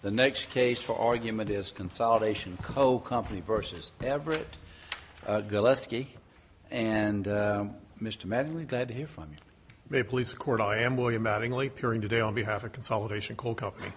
The next case for argument is Consolidation Coal Company v. Everett Galusky, and Mr. Mattingly, glad to hear from you. May it please the Court, I am William Mattingly, appearing today on behalf of Consolidation Coal Company.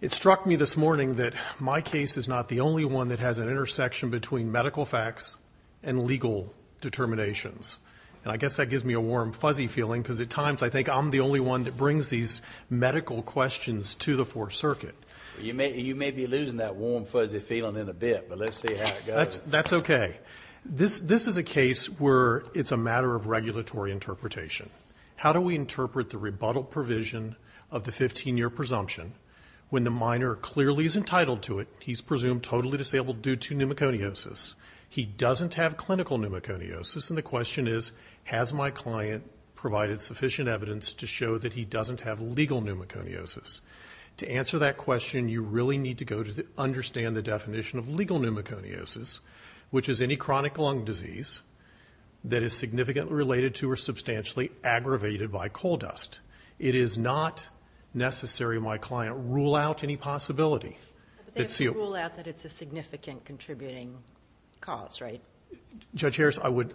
It struck me this morning that my case is not the only one that has an intersection between medical facts and legal determinations. And I guess that gives me a warm, fuzzy feeling, because at times I think I'm the only one that brings these medical questions to the Fourth Circuit. You may be losing that warm, fuzzy feeling in a bit, but let's see how it goes. That's okay. This is a case where it's a matter of regulatory interpretation. How do we interpret the rebuttal provision of the 15-year presumption when the minor clearly is entitled to it, he's presumed totally disabled due to pneumoconiosis, he doesn't have clinical pneumoconiosis, and the question is, has my client provided sufficient evidence to show that he doesn't have legal pneumoconiosis? To answer that question, you really need to go to understand the definition of legal pneumoconiosis, which is any chronic lung disease that is significantly related to or substantially aggravated by coal dust. It is not necessary my client rule out any possibility. Rule out that it's a significant contributing cause, right? Judge Harris, I would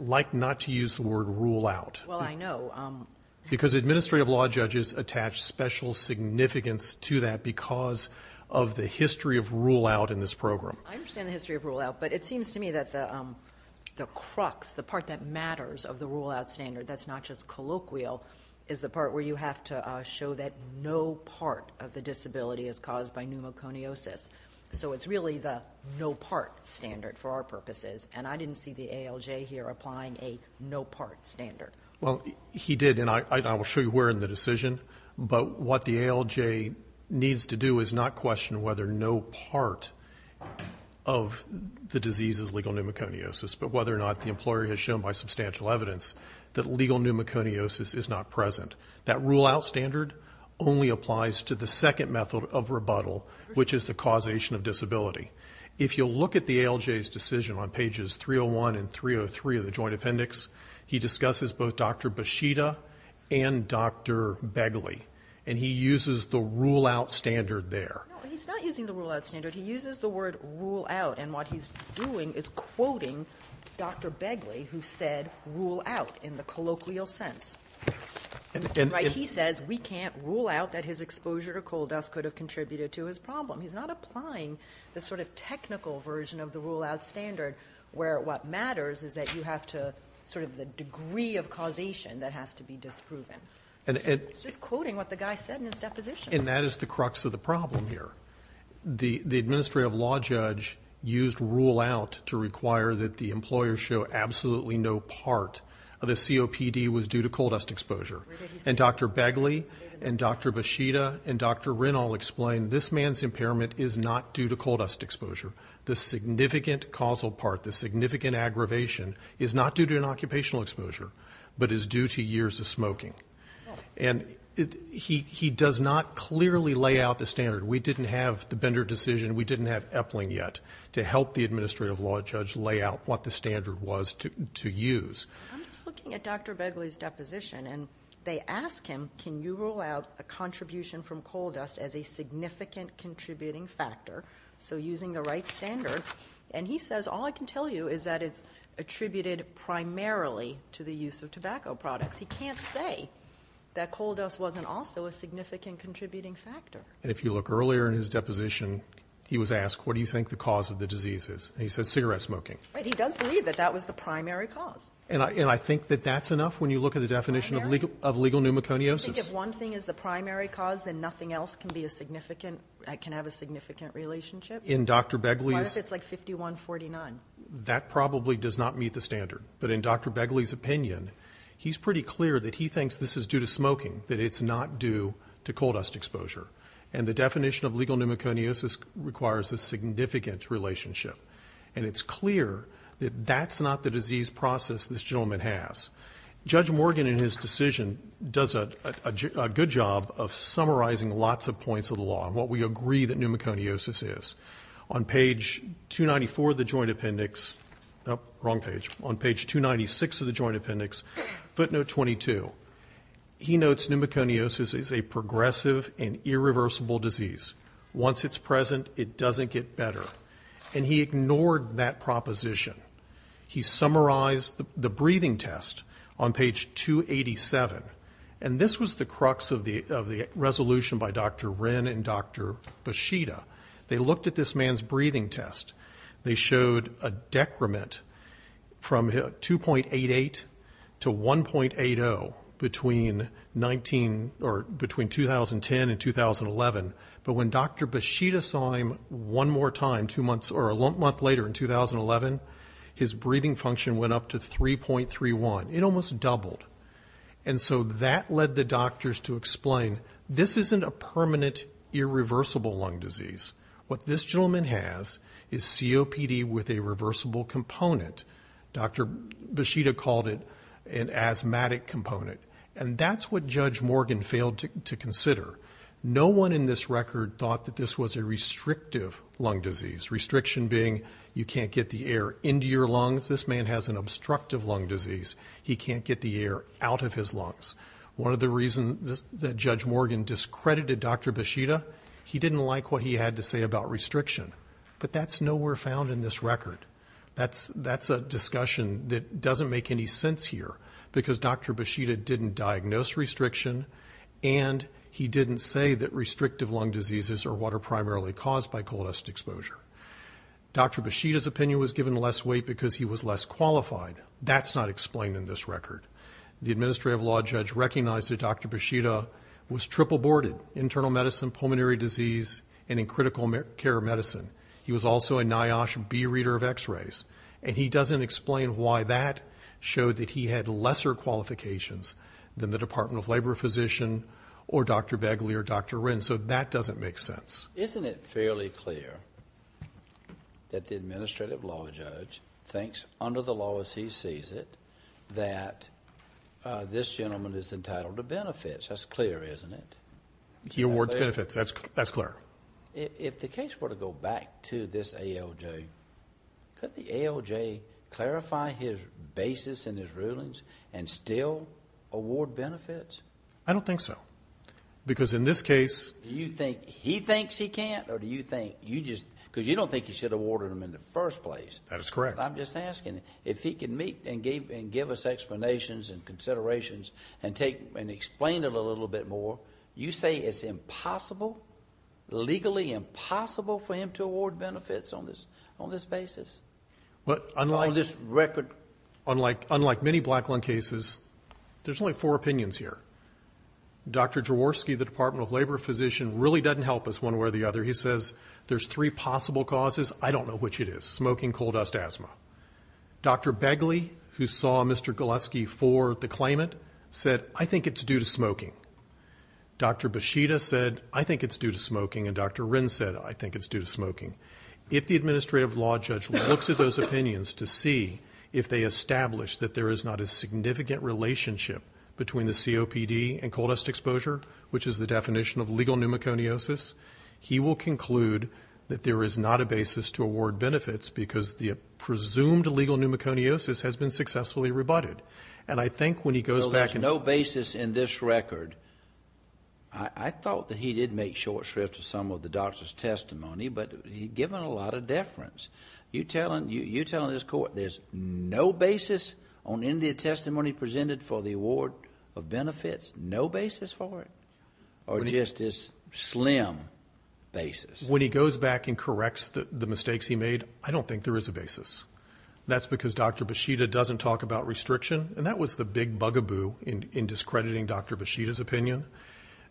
like not to use the word rule out. Well, I know. Because administrative law judges attach special significance to that because of the history of rule out in this program. I understand the history of rule out, but it seems to me that the crux, the part that matters of the rule out standard that's not just colloquial, is the part where you have to show that no part of the disability is caused by pneumoconiosis. So it's really the no part standard for our purposes, and I didn't see the ALJ here applying a no part standard. Well, he did, and I will show you where in the decision. But what the ALJ needs to do is not question whether no part of the disease is legal pneumoconiosis, but whether or not the employer has shown by substantial evidence that legal pneumoconiosis is not present. That rule out standard only applies to the second method of rebuttal, which is the causation of disability. If you look at the ALJ's decision on pages 301 and 303 of the Joint Appendix, he discusses both Dr. Beshida and Dr. Begley, and he uses the rule out standard there. No, he's not using the rule out standard. He uses the word rule out, and what he's doing is quoting Dr. Begley, who said rule out in the colloquial sense. Right? He says we can't rule out that his exposure to coal dust could have contributed to his problem. He's not applying the sort of technical version of the rule out standard where what matters is that you have to sort of the degree of causation that has to be disproven. He's just quoting what the guy said in his deposition. And that is the crux of the problem here. The administrative law judge used rule out to require that the employer show absolutely no part of the COPD was due to coal dust exposure. And Dr. Begley and Dr. Beshida and Dr. Rinnall explained this man's impairment is not due to coal dust exposure. The significant causal part, the significant aggravation is not due to an occupational exposure, but is due to years of smoking. And he does not clearly lay out the standard. We didn't have the Bender decision. We didn't have Eppling yet to help the administrative law judge lay out what the standard was to use. I'm just looking at Dr. Begley's deposition, and they ask him, can you rule out a contribution from coal dust as a significant contributing factor? So using the right standard. And he says all I can tell you is that it's attributed primarily to the use of tobacco products. He can't say that coal dust wasn't also a significant contributing factor. And if you look earlier in his deposition, he was asked, what do you think the cause of the disease is? And he said cigarette smoking. But he does believe that that was the primary cause. And I think that that's enough when you look at the definition of legal pneumoconiosis. I think if one thing is the primary cause, then nothing else can be a significant, can have a significant relationship. In Dr. Begley's. What if it's like 51-49? That probably does not meet the standard. But in Dr. Begley's opinion, he's pretty clear that he thinks this is due to smoking, that it's not due to coal dust exposure. And the definition of legal pneumoconiosis requires a significant relationship. And it's clear that that's not the disease process this gentleman has. Judge Morgan in his decision does a good job of summarizing lots of points of the law and what we agree that pneumoconiosis is. On page 294 of the Joint Appendix, wrong page, on page 296 of the Joint Appendix, footnote 22, he notes pneumoconiosis is a progressive and irreversible disease. Once it's present, it doesn't get better. And he ignored that proposition. He summarized the breathing test on page 287. And this was the crux of the resolution by Dr. Wren and Dr. Beshida. They looked at this man's breathing test. They showed a decrement from 2.88 to 1.80 between 19 or between 2010 and 2011. But when Dr. Beshida saw him one more time two months or a month later in 2011, his breathing function went up to 3.31. It almost doubled. And so that led the doctors to explain this isn't a permanent irreversible lung disease. What this gentleman has is COPD with a reversible component. Dr. Beshida called it an asthmatic component. And that's what Judge Morgan failed to consider. No one in this record thought that this was a restrictive lung disease, restriction being you can't get the air into your lungs. This man has an obstructive lung disease. He can't get the air out of his lungs. One of the reasons that Judge Morgan discredited Dr. Beshida, he didn't like what he had to say about restriction. But that's nowhere found in this record. That's a discussion that doesn't make any sense here because Dr. Beshida didn't diagnose restriction, and he didn't say that restrictive lung diseases are what are primarily caused by coldest exposure. Dr. Beshida's opinion was given less weight because he was less qualified. That's not explained in this record. The administrative law judge recognized that Dr. Beshida was triple boarded, internal medicine, pulmonary disease, and in critical care medicine. He was also a NIOSH B reader of x-rays. And he doesn't explain why that showed that he had lesser qualifications than the Department of Labor physician or Dr. Begley or Dr. Wren. So that doesn't make sense. Isn't it fairly clear that the administrative law judge thinks, under the law as he sees it, that this gentleman is entitled to benefits? That's clear, isn't it? He awards benefits. That's clear. If the case were to go back to this ALJ, could the ALJ clarify his basis and his rulings and still award benefits? I don't think so because in this case... Do you think he thinks he can't or do you think you just... Because you don't think he should have awarded them in the first place. That is correct. I'm just asking, if he can meet and give us explanations and considerations and explain it a little bit more, you say it's impossible, legally impossible, for him to award benefits on this basis, on this record? Unlike many black lung cases, there's only four opinions here. Dr. Jaworski, the Department of Labor physician, really doesn't help us one way or the other. He says there's three possible causes. I don't know which it is. Smoking, coal dust, asthma. Dr. Begley, who saw Mr. Gillespie for the claimant, said, I think it's due to smoking. Dr. Beshida said, I think it's due to smoking. And Dr. Wren said, I think it's due to smoking. If the administrative law judge looks at those opinions to see if they establish that there is not a significant relationship between the COPD and coal dust exposure, which is the definition of legal pneumoconiosis, he will conclude that there is not a basis to award benefits because the presumed legal pneumoconiosis has been successfully rebutted. And I think when he goes back... So there's no basis in this record. I thought that he did make short shrift of some of the doctor's testimony, but he'd given a lot of deference. You're telling this court there's no basis on any of the testimony presented for the award of benefits? No basis for it? Or just this slim basis? When he goes back and corrects the mistakes he made, I don't think there is a basis. That's because Dr. Beshida doesn't talk about restriction. And that was the big bugaboo in discrediting Dr. Beshida's opinion.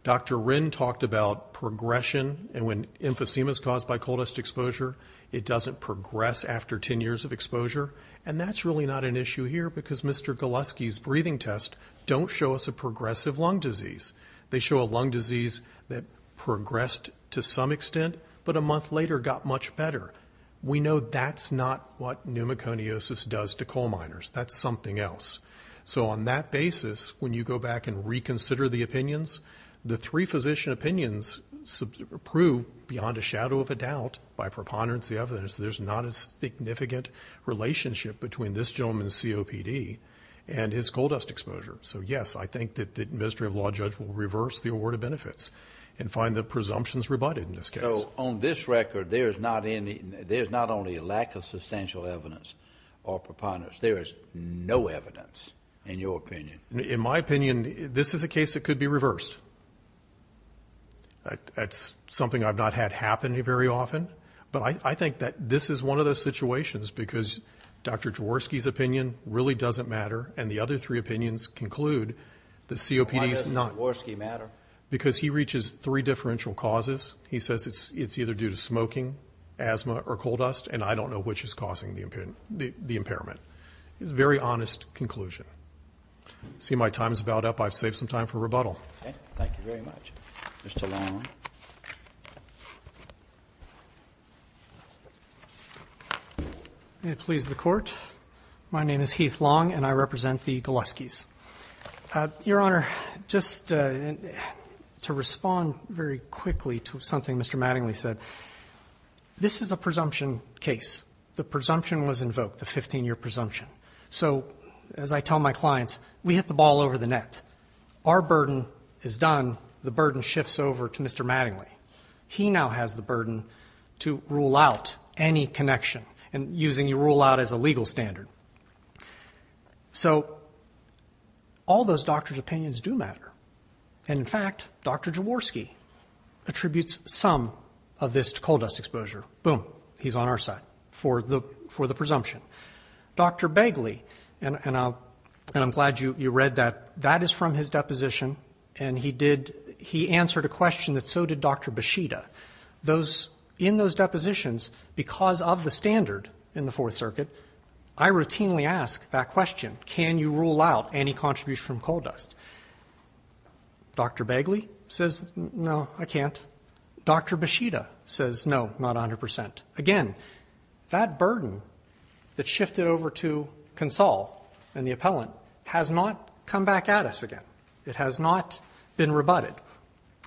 Dr. Wren talked about progression. And when emphysema is caused by coal dust exposure, it doesn't progress after 10 years of exposure. And that's really not an issue here because Mr. Golaski's breathing tests don't show us a progressive lung disease. They show a lung disease that progressed to some extent, but a month later got much better. We know that's not what pneumoconiosis does to coal miners. That's something else. So on that basis, when you go back and reconsider the opinions, the three physician opinions prove beyond a shadow of a doubt, by preponderance of evidence, there's not a significant relationship between this gentleman's COPD and his coal dust exposure. So, yes, I think that the administrative law judge will reverse the award of benefits and find the presumptions rebutted in this case. So on this record, there's not only a lack of substantial evidence or preponderance. There is no evidence, in your opinion. In my opinion, this is a case that could be reversed. That's something I've not had happen very often. But I think that this is one of those situations because Dr. Jaworski's opinion really doesn't matter, and the other three opinions conclude that COPD is not… Why doesn't Jaworski matter? Because he reaches three differential causes. He says it's either due to smoking, asthma, or coal dust, and I don't know which is causing the impairment. It's a very honest conclusion. I see my time is about up. I've saved some time for rebuttal. Thank you very much. Mr. Long. May it please the Court. My name is Heath Long, and I represent the Gilleskis. Your Honor, just to respond very quickly to something Mr. Mattingly said, this is a presumption case. The presumption was invoked, the 15-year presumption. So as I tell my clients, we hit the ball over the net. Our burden is done. The burden shifts over to Mr. Mattingly. He now has the burden to rule out any connection, and using your rule out as a legal standard. So all those doctors' opinions do matter. And, in fact, Dr. Jaworski attributes some of this to coal dust exposure. Boom, he's on our side for the presumption. Dr. Begley, and I'm glad you read that, that is from his deposition, and he answered a question that so did Dr. Bishita. In those depositions, because of the standard in the Fourth Circuit, I routinely ask that question, can you rule out any contribution from coal dust? Dr. Begley says, no, I can't. Dr. Bishita says, no, not 100%. Again, that burden that shifted over to Consol and the appellant has not come back at us again. It has not been rebutted.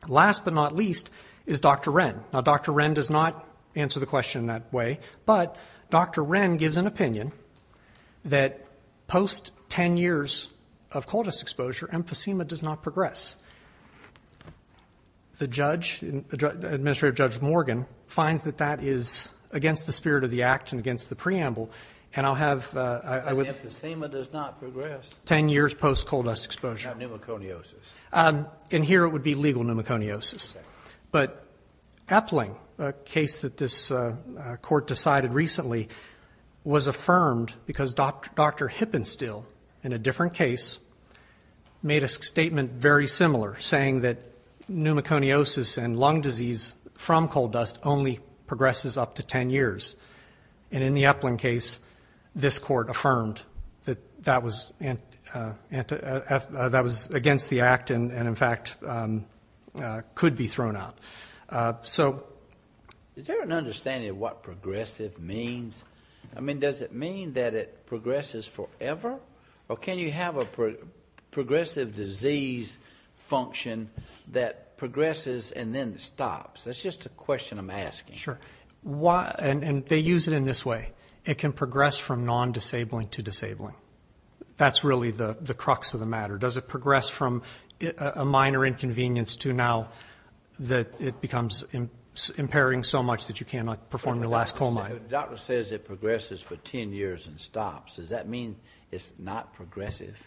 Last but not least is Dr. Wren. Now, Dr. Wren does not answer the question in that way, but Dr. Wren gives an opinion that post 10 years of coal dust exposure, emphysema does not progress. The judge, Administrative Judge Morgan, finds that that is against the spirit of the act and against the preamble, and I'll have- Emphysema does not progress. Ten years post coal dust exposure. Now pneumoconiosis. In here it would be legal pneumoconiosis, but Eppling, a case that this court decided recently, was affirmed because Dr. Hippenstiel, in a different case, made a statement very similar saying that pneumoconiosis and lung disease from coal dust only progresses up to 10 years. In the Eppling case, this court affirmed that that was against the act and, in fact, could be thrown out. So- Is there an understanding of what progressive means? I mean, does it mean that it progresses forever, or can you have a progressive disease function that progresses and then stops? That's just a question I'm asking. Sure. And they use it in this way. It can progress from non-disabling to disabling. That's really the crux of the matter. Does it progress from a minor inconvenience to now that it becomes impairing so much that you cannot perform your last coal mine? The doctor says it progresses for 10 years and stops. Does that mean it's not progressive?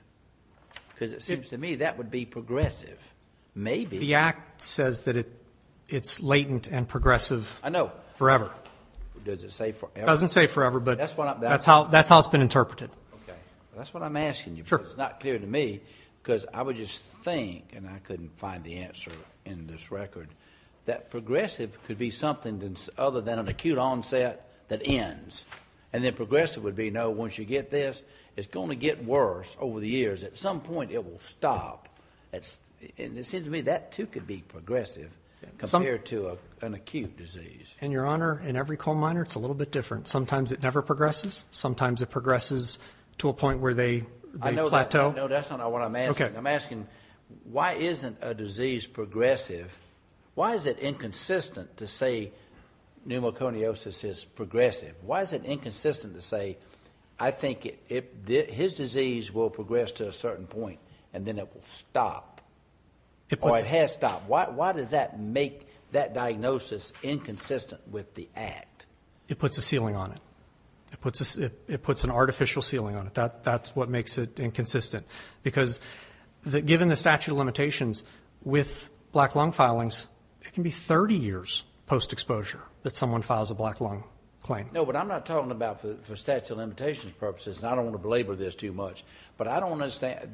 Because it seems to me that would be progressive. Maybe. The act says that it's latent and progressive. I know. Forever. Does it say forever? It doesn't say forever, but that's how it's been interpreted. Okay. That's what I'm asking you. Sure. It's not clear to me because I would just think, and I couldn't find the answer in this record, that progressive could be something other than an acute onset that ends, and then progressive would be, no, once you get this, it's going to get worse over the years. At some point, it will stop. It seems to me that, too, could be progressive compared to an acute disease. And, Your Honor, in every coal miner, it's a little bit different. Sometimes it never progresses. Sometimes it progresses to a point where they plateau. No, that's not what I'm asking. Okay. I'm asking, why isn't a disease progressive? Why is it inconsistent to say pneumoconiosis is progressive? Why is it inconsistent to say, I think his disease will progress to a certain point, and then it will stop, or it has stopped? Why does that make that diagnosis inconsistent with the act? It puts a ceiling on it. It puts an artificial ceiling on it. That's what makes it inconsistent. Because given the statute of limitations, with black lung filings, it can be 30 years post-exposure that someone files a black lung claim. No, but I'm not talking about, for statute of limitations purposes, and I don't want to belabor this too much, but I don't understand.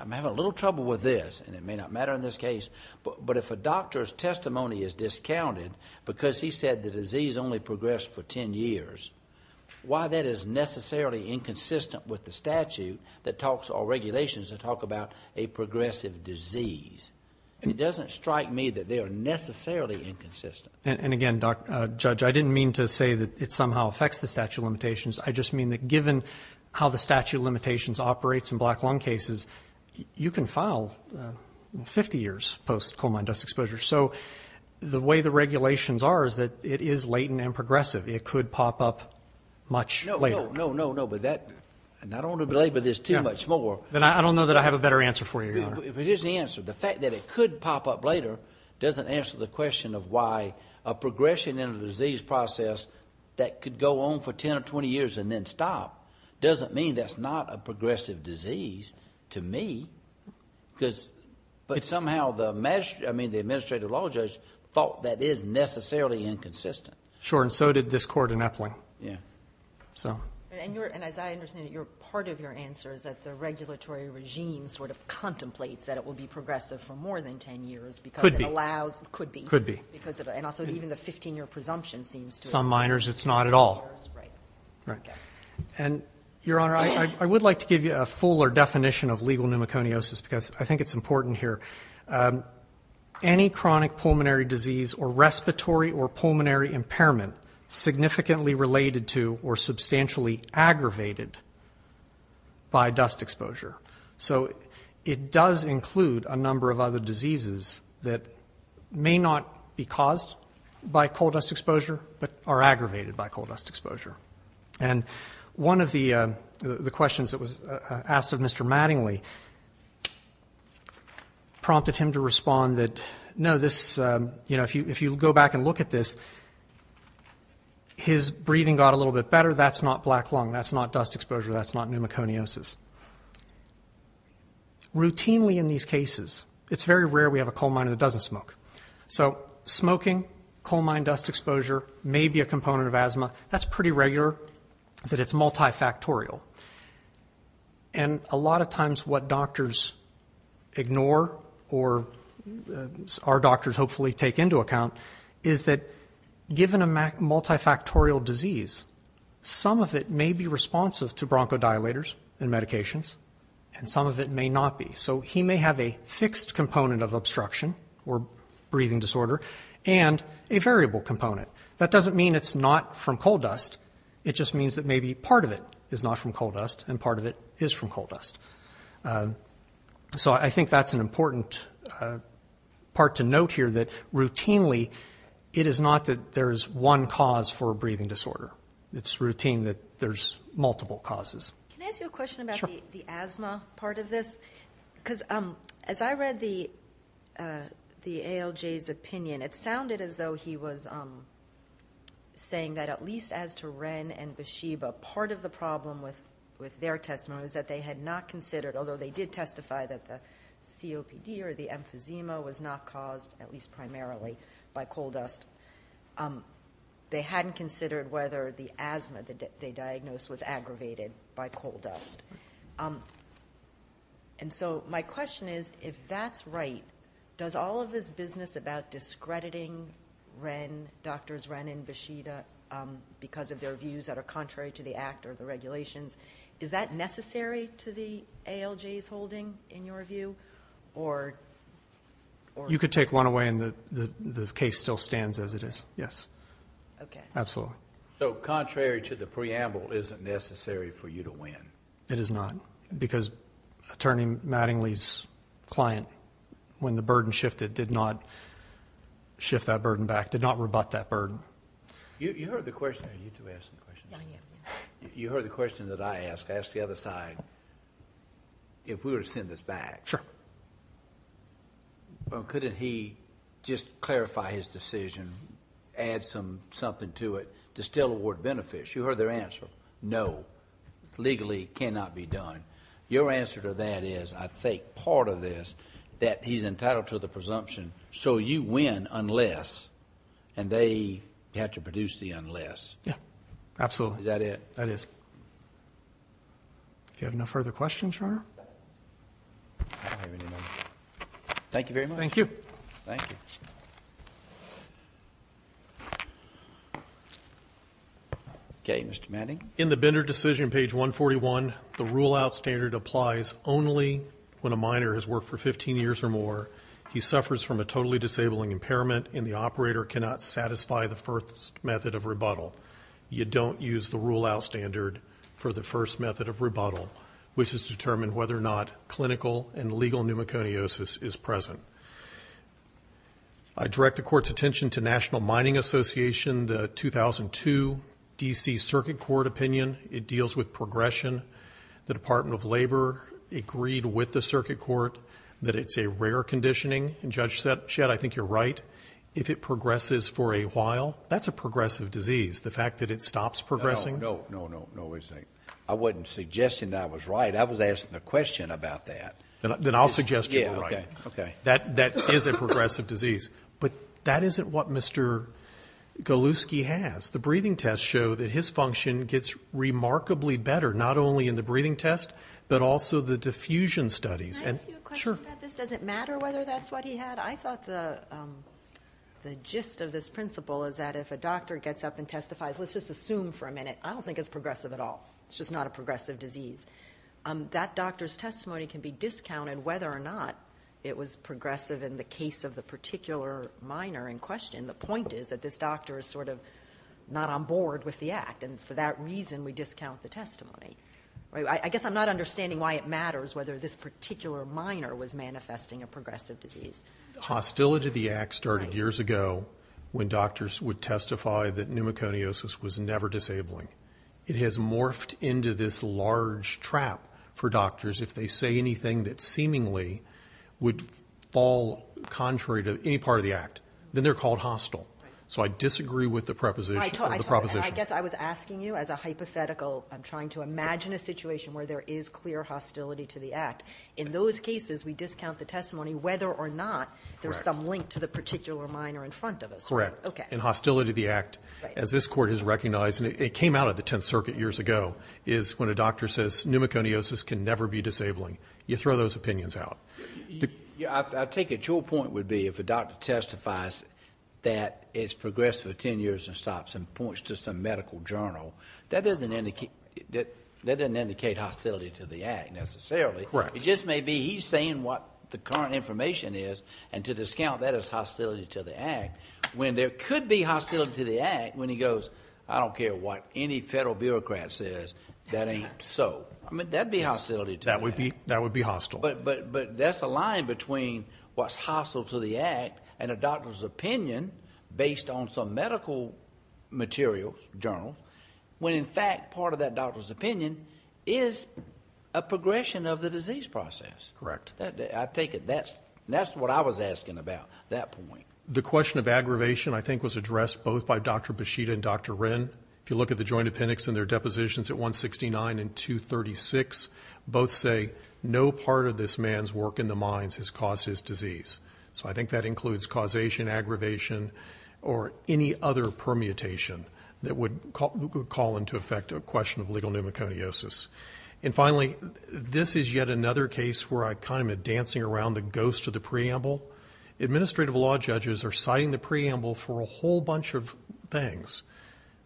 I'm having a little trouble with this, and it may not matter in this case, but if a doctor's testimony is discounted because he said the disease only progressed for 10 years, why that is necessarily inconsistent with the statute that talks, or regulations that talk about a progressive disease. It doesn't strike me that they are necessarily inconsistent. And, again, Judge, I didn't mean to say that it somehow affects the statute of limitations. I just mean that given how the statute of limitations operates in black lung cases, you can file 50 years post-coal mine dust exposure. So the way the regulations are is that it is latent and progressive. It could pop up much later. No, no, no, no, no, but I don't want to belabor this too much more. Then I don't know that I have a better answer for you here. Here's the answer. The fact that it could pop up later doesn't answer the question of why a progression in a disease process that could go on for 10 or 20 years and then stop doesn't mean that's not a progressive disease to me. But somehow the administrative law judge thought that is necessarily inconsistent. Sure, and so did this court in Eppling. Yeah. Could be. Could be. Some minors, it's not at all. Right. And, Your Honor, I would like to give you a fuller definition of legal pneumoconiosis because I think it's important here. Any chronic pulmonary disease or respiratory or pulmonary impairment significantly related to or substantially aggravated by dust exposure. So it does include a number of other diseases that may not be caused by coal dust exposure but are aggravated by coal dust exposure. And one of the questions that was asked of Mr. Mattingly prompted him to respond that, no, this, you know, if you go back and look at this, his breathing got a little bit better. That's not black lung. That's not dust exposure. That's not pneumoconiosis. Routinely in these cases, it's very rare we have a coal minor that doesn't smoke. So smoking, coal mine dust exposure may be a component of asthma. That's pretty regular that it's multifactorial. And a lot of times what doctors ignore or our doctors hopefully take into account is that given a multifactorial disease, some of it may be responsive to bronchodilators and medications and some of it may not be. So he may have a fixed component of obstruction or breathing disorder and a variable component. That doesn't mean it's not from coal dust. It just means that maybe part of it is not from coal dust and part of it is from coal dust. So I think that's an important part to note here, that routinely it is not that there is one cause for a breathing disorder. It's routine that there's multiple causes. Can I ask you a question about the asthma part of this? Because as I read the ALJ's opinion, it sounded as though he was saying that at least as to Wren and Besheba, part of the problem with their testimony was that they had not considered, although they did testify that the COPD or the emphysema was not caused, at least primarily, by coal dust. They hadn't considered whether the asthma that they diagnosed was aggravated by coal dust. And so my question is, if that's right, does all of this business about discrediting Wren, Drs. Wren and Besheba because of their views that are contrary to the act or the regulations, is that necessary to the ALJ's holding, in your view? You could take one away and the case still stands as it is. Yes. Okay. Absolutely. So contrary to the preamble, is it necessary for you to win? It is not. Because Attorney Mattingly's client, when the burden shifted, did not shift that burden back, did not rebut that burden. You heard the question that I asked. I asked the other side if we were to send this back. Sure. Couldn't he just clarify his decision, add something to it, to still award benefits? You heard their answer. No. Legally, it cannot be done. Your answer to that is, I think part of this, that he's entitled to the presumption so you win unless, and they have to produce the unless. Yes. Absolutely. Is that it? That is. If you have no further questions, Your Honor. Thank you very much. Thank you. Thank you. Okay. Mr. Mattingly. In the Bender decision, page 141, the rule-out standard applies only when a miner has worked for 15 years or more, he suffers from a totally disabling impairment, and the operator cannot satisfy the first method of rebuttal. You don't use the rule-out standard for the first method of rebuttal, which is to determine whether or not clinical and legal pneumoconiosis is present. I direct the Court's attention to National Mining Association, the 2002 D.C. Circuit Court opinion. It deals with progression. The Department of Labor agreed with the Circuit Court that it's a rare conditioning, and, Judge Shedd, I think you're right. If it progresses for a while, that's a progressive disease, the fact that it stops progressing. No, no, no, no. I wasn't suggesting that I was right. I was asking a question about that. Then I'll suggest you're right. Yeah, okay. Okay. That is a progressive disease. But that isn't what Mr. Goluski has. The breathing tests show that his function gets remarkably better, not only in the breathing test, but also the diffusion studies. Can I ask you a question about this? Sure. Does it matter whether that's what he had? I thought the gist of this principle is that if a doctor gets up and testifies, let's just assume for a minute, I don't think it's progressive at all. It's just not a progressive disease. That doctor's testimony can be discounted, whether or not it was progressive in the case of the particular minor in question. The point is that this doctor is sort of not on board with the act, and for that reason we discount the testimony. I guess I'm not understanding why it matters whether this particular minor was manifesting a progressive disease. Hostility to the act started years ago when doctors would testify that pneumoconiosis was never disabling. It has morphed into this large trap for doctors. If they say anything that seemingly would fall contrary to any part of the act, then they're called hostile. So I disagree with the proposition. I guess I was asking you as a hypothetical. I'm trying to imagine a situation where there is clear hostility to the act. In those cases, we discount the testimony whether or not there's some link to the particular minor in front of us. Correct. In hostility to the act, as this Court has recognized, and it came out of the Tenth Circuit years ago, is when a doctor says pneumoconiosis can never be disabling. You throw those opinions out. I take it your point would be if a doctor testifies that it's progressive for 10 years and stops and points to some medical journal, that doesn't indicate hostility to the act necessarily. Correct. It just may be he's saying what the current information is, and to discount that as hostility to the act, when there could be hostility to the act, when he goes, I don't care what any federal bureaucrat says, that ain't so. I mean, that'd be hostility to the act. That would be hostile. But that's a line between what's hostile to the act and a doctor's opinion based on some medical materials, journals, when in fact part of that doctor's opinion is a progression of the disease process. Correct. I take it that's what I was asking about at that point. The question of aggravation, I think, was addressed both by Dr. Bushida and Dr. Wren. If you look at the joint appendix and their depositions at 169 and 236, both say no part of this man's work in the minds has caused his disease. So I think that includes causation, aggravation, or any other permutation that would call into effect a question of legal pneumoconiosis. And finally, this is yet another case where I'm kind of dancing around the ghost of the preamble. Administrative law judges are citing the preamble for a whole bunch of things.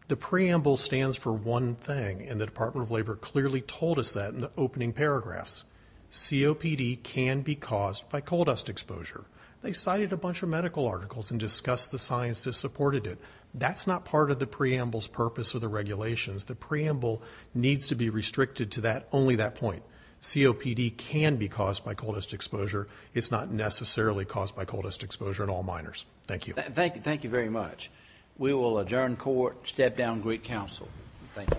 The preamble stands for one thing, and the Department of Labor clearly told us that in the opening paragraphs. COPD can be caused by coal dust exposure. They cited a bunch of medical articles and discussed the science that supported it. That's not part of the preamble's purpose or the regulations. The preamble needs to be restricted to only that point. COPD can be caused by coal dust exposure. It's not necessarily caused by coal dust exposure in all minors. Thank you. Thank you very much. We will adjourn court, step down, greet counsel. Thank you.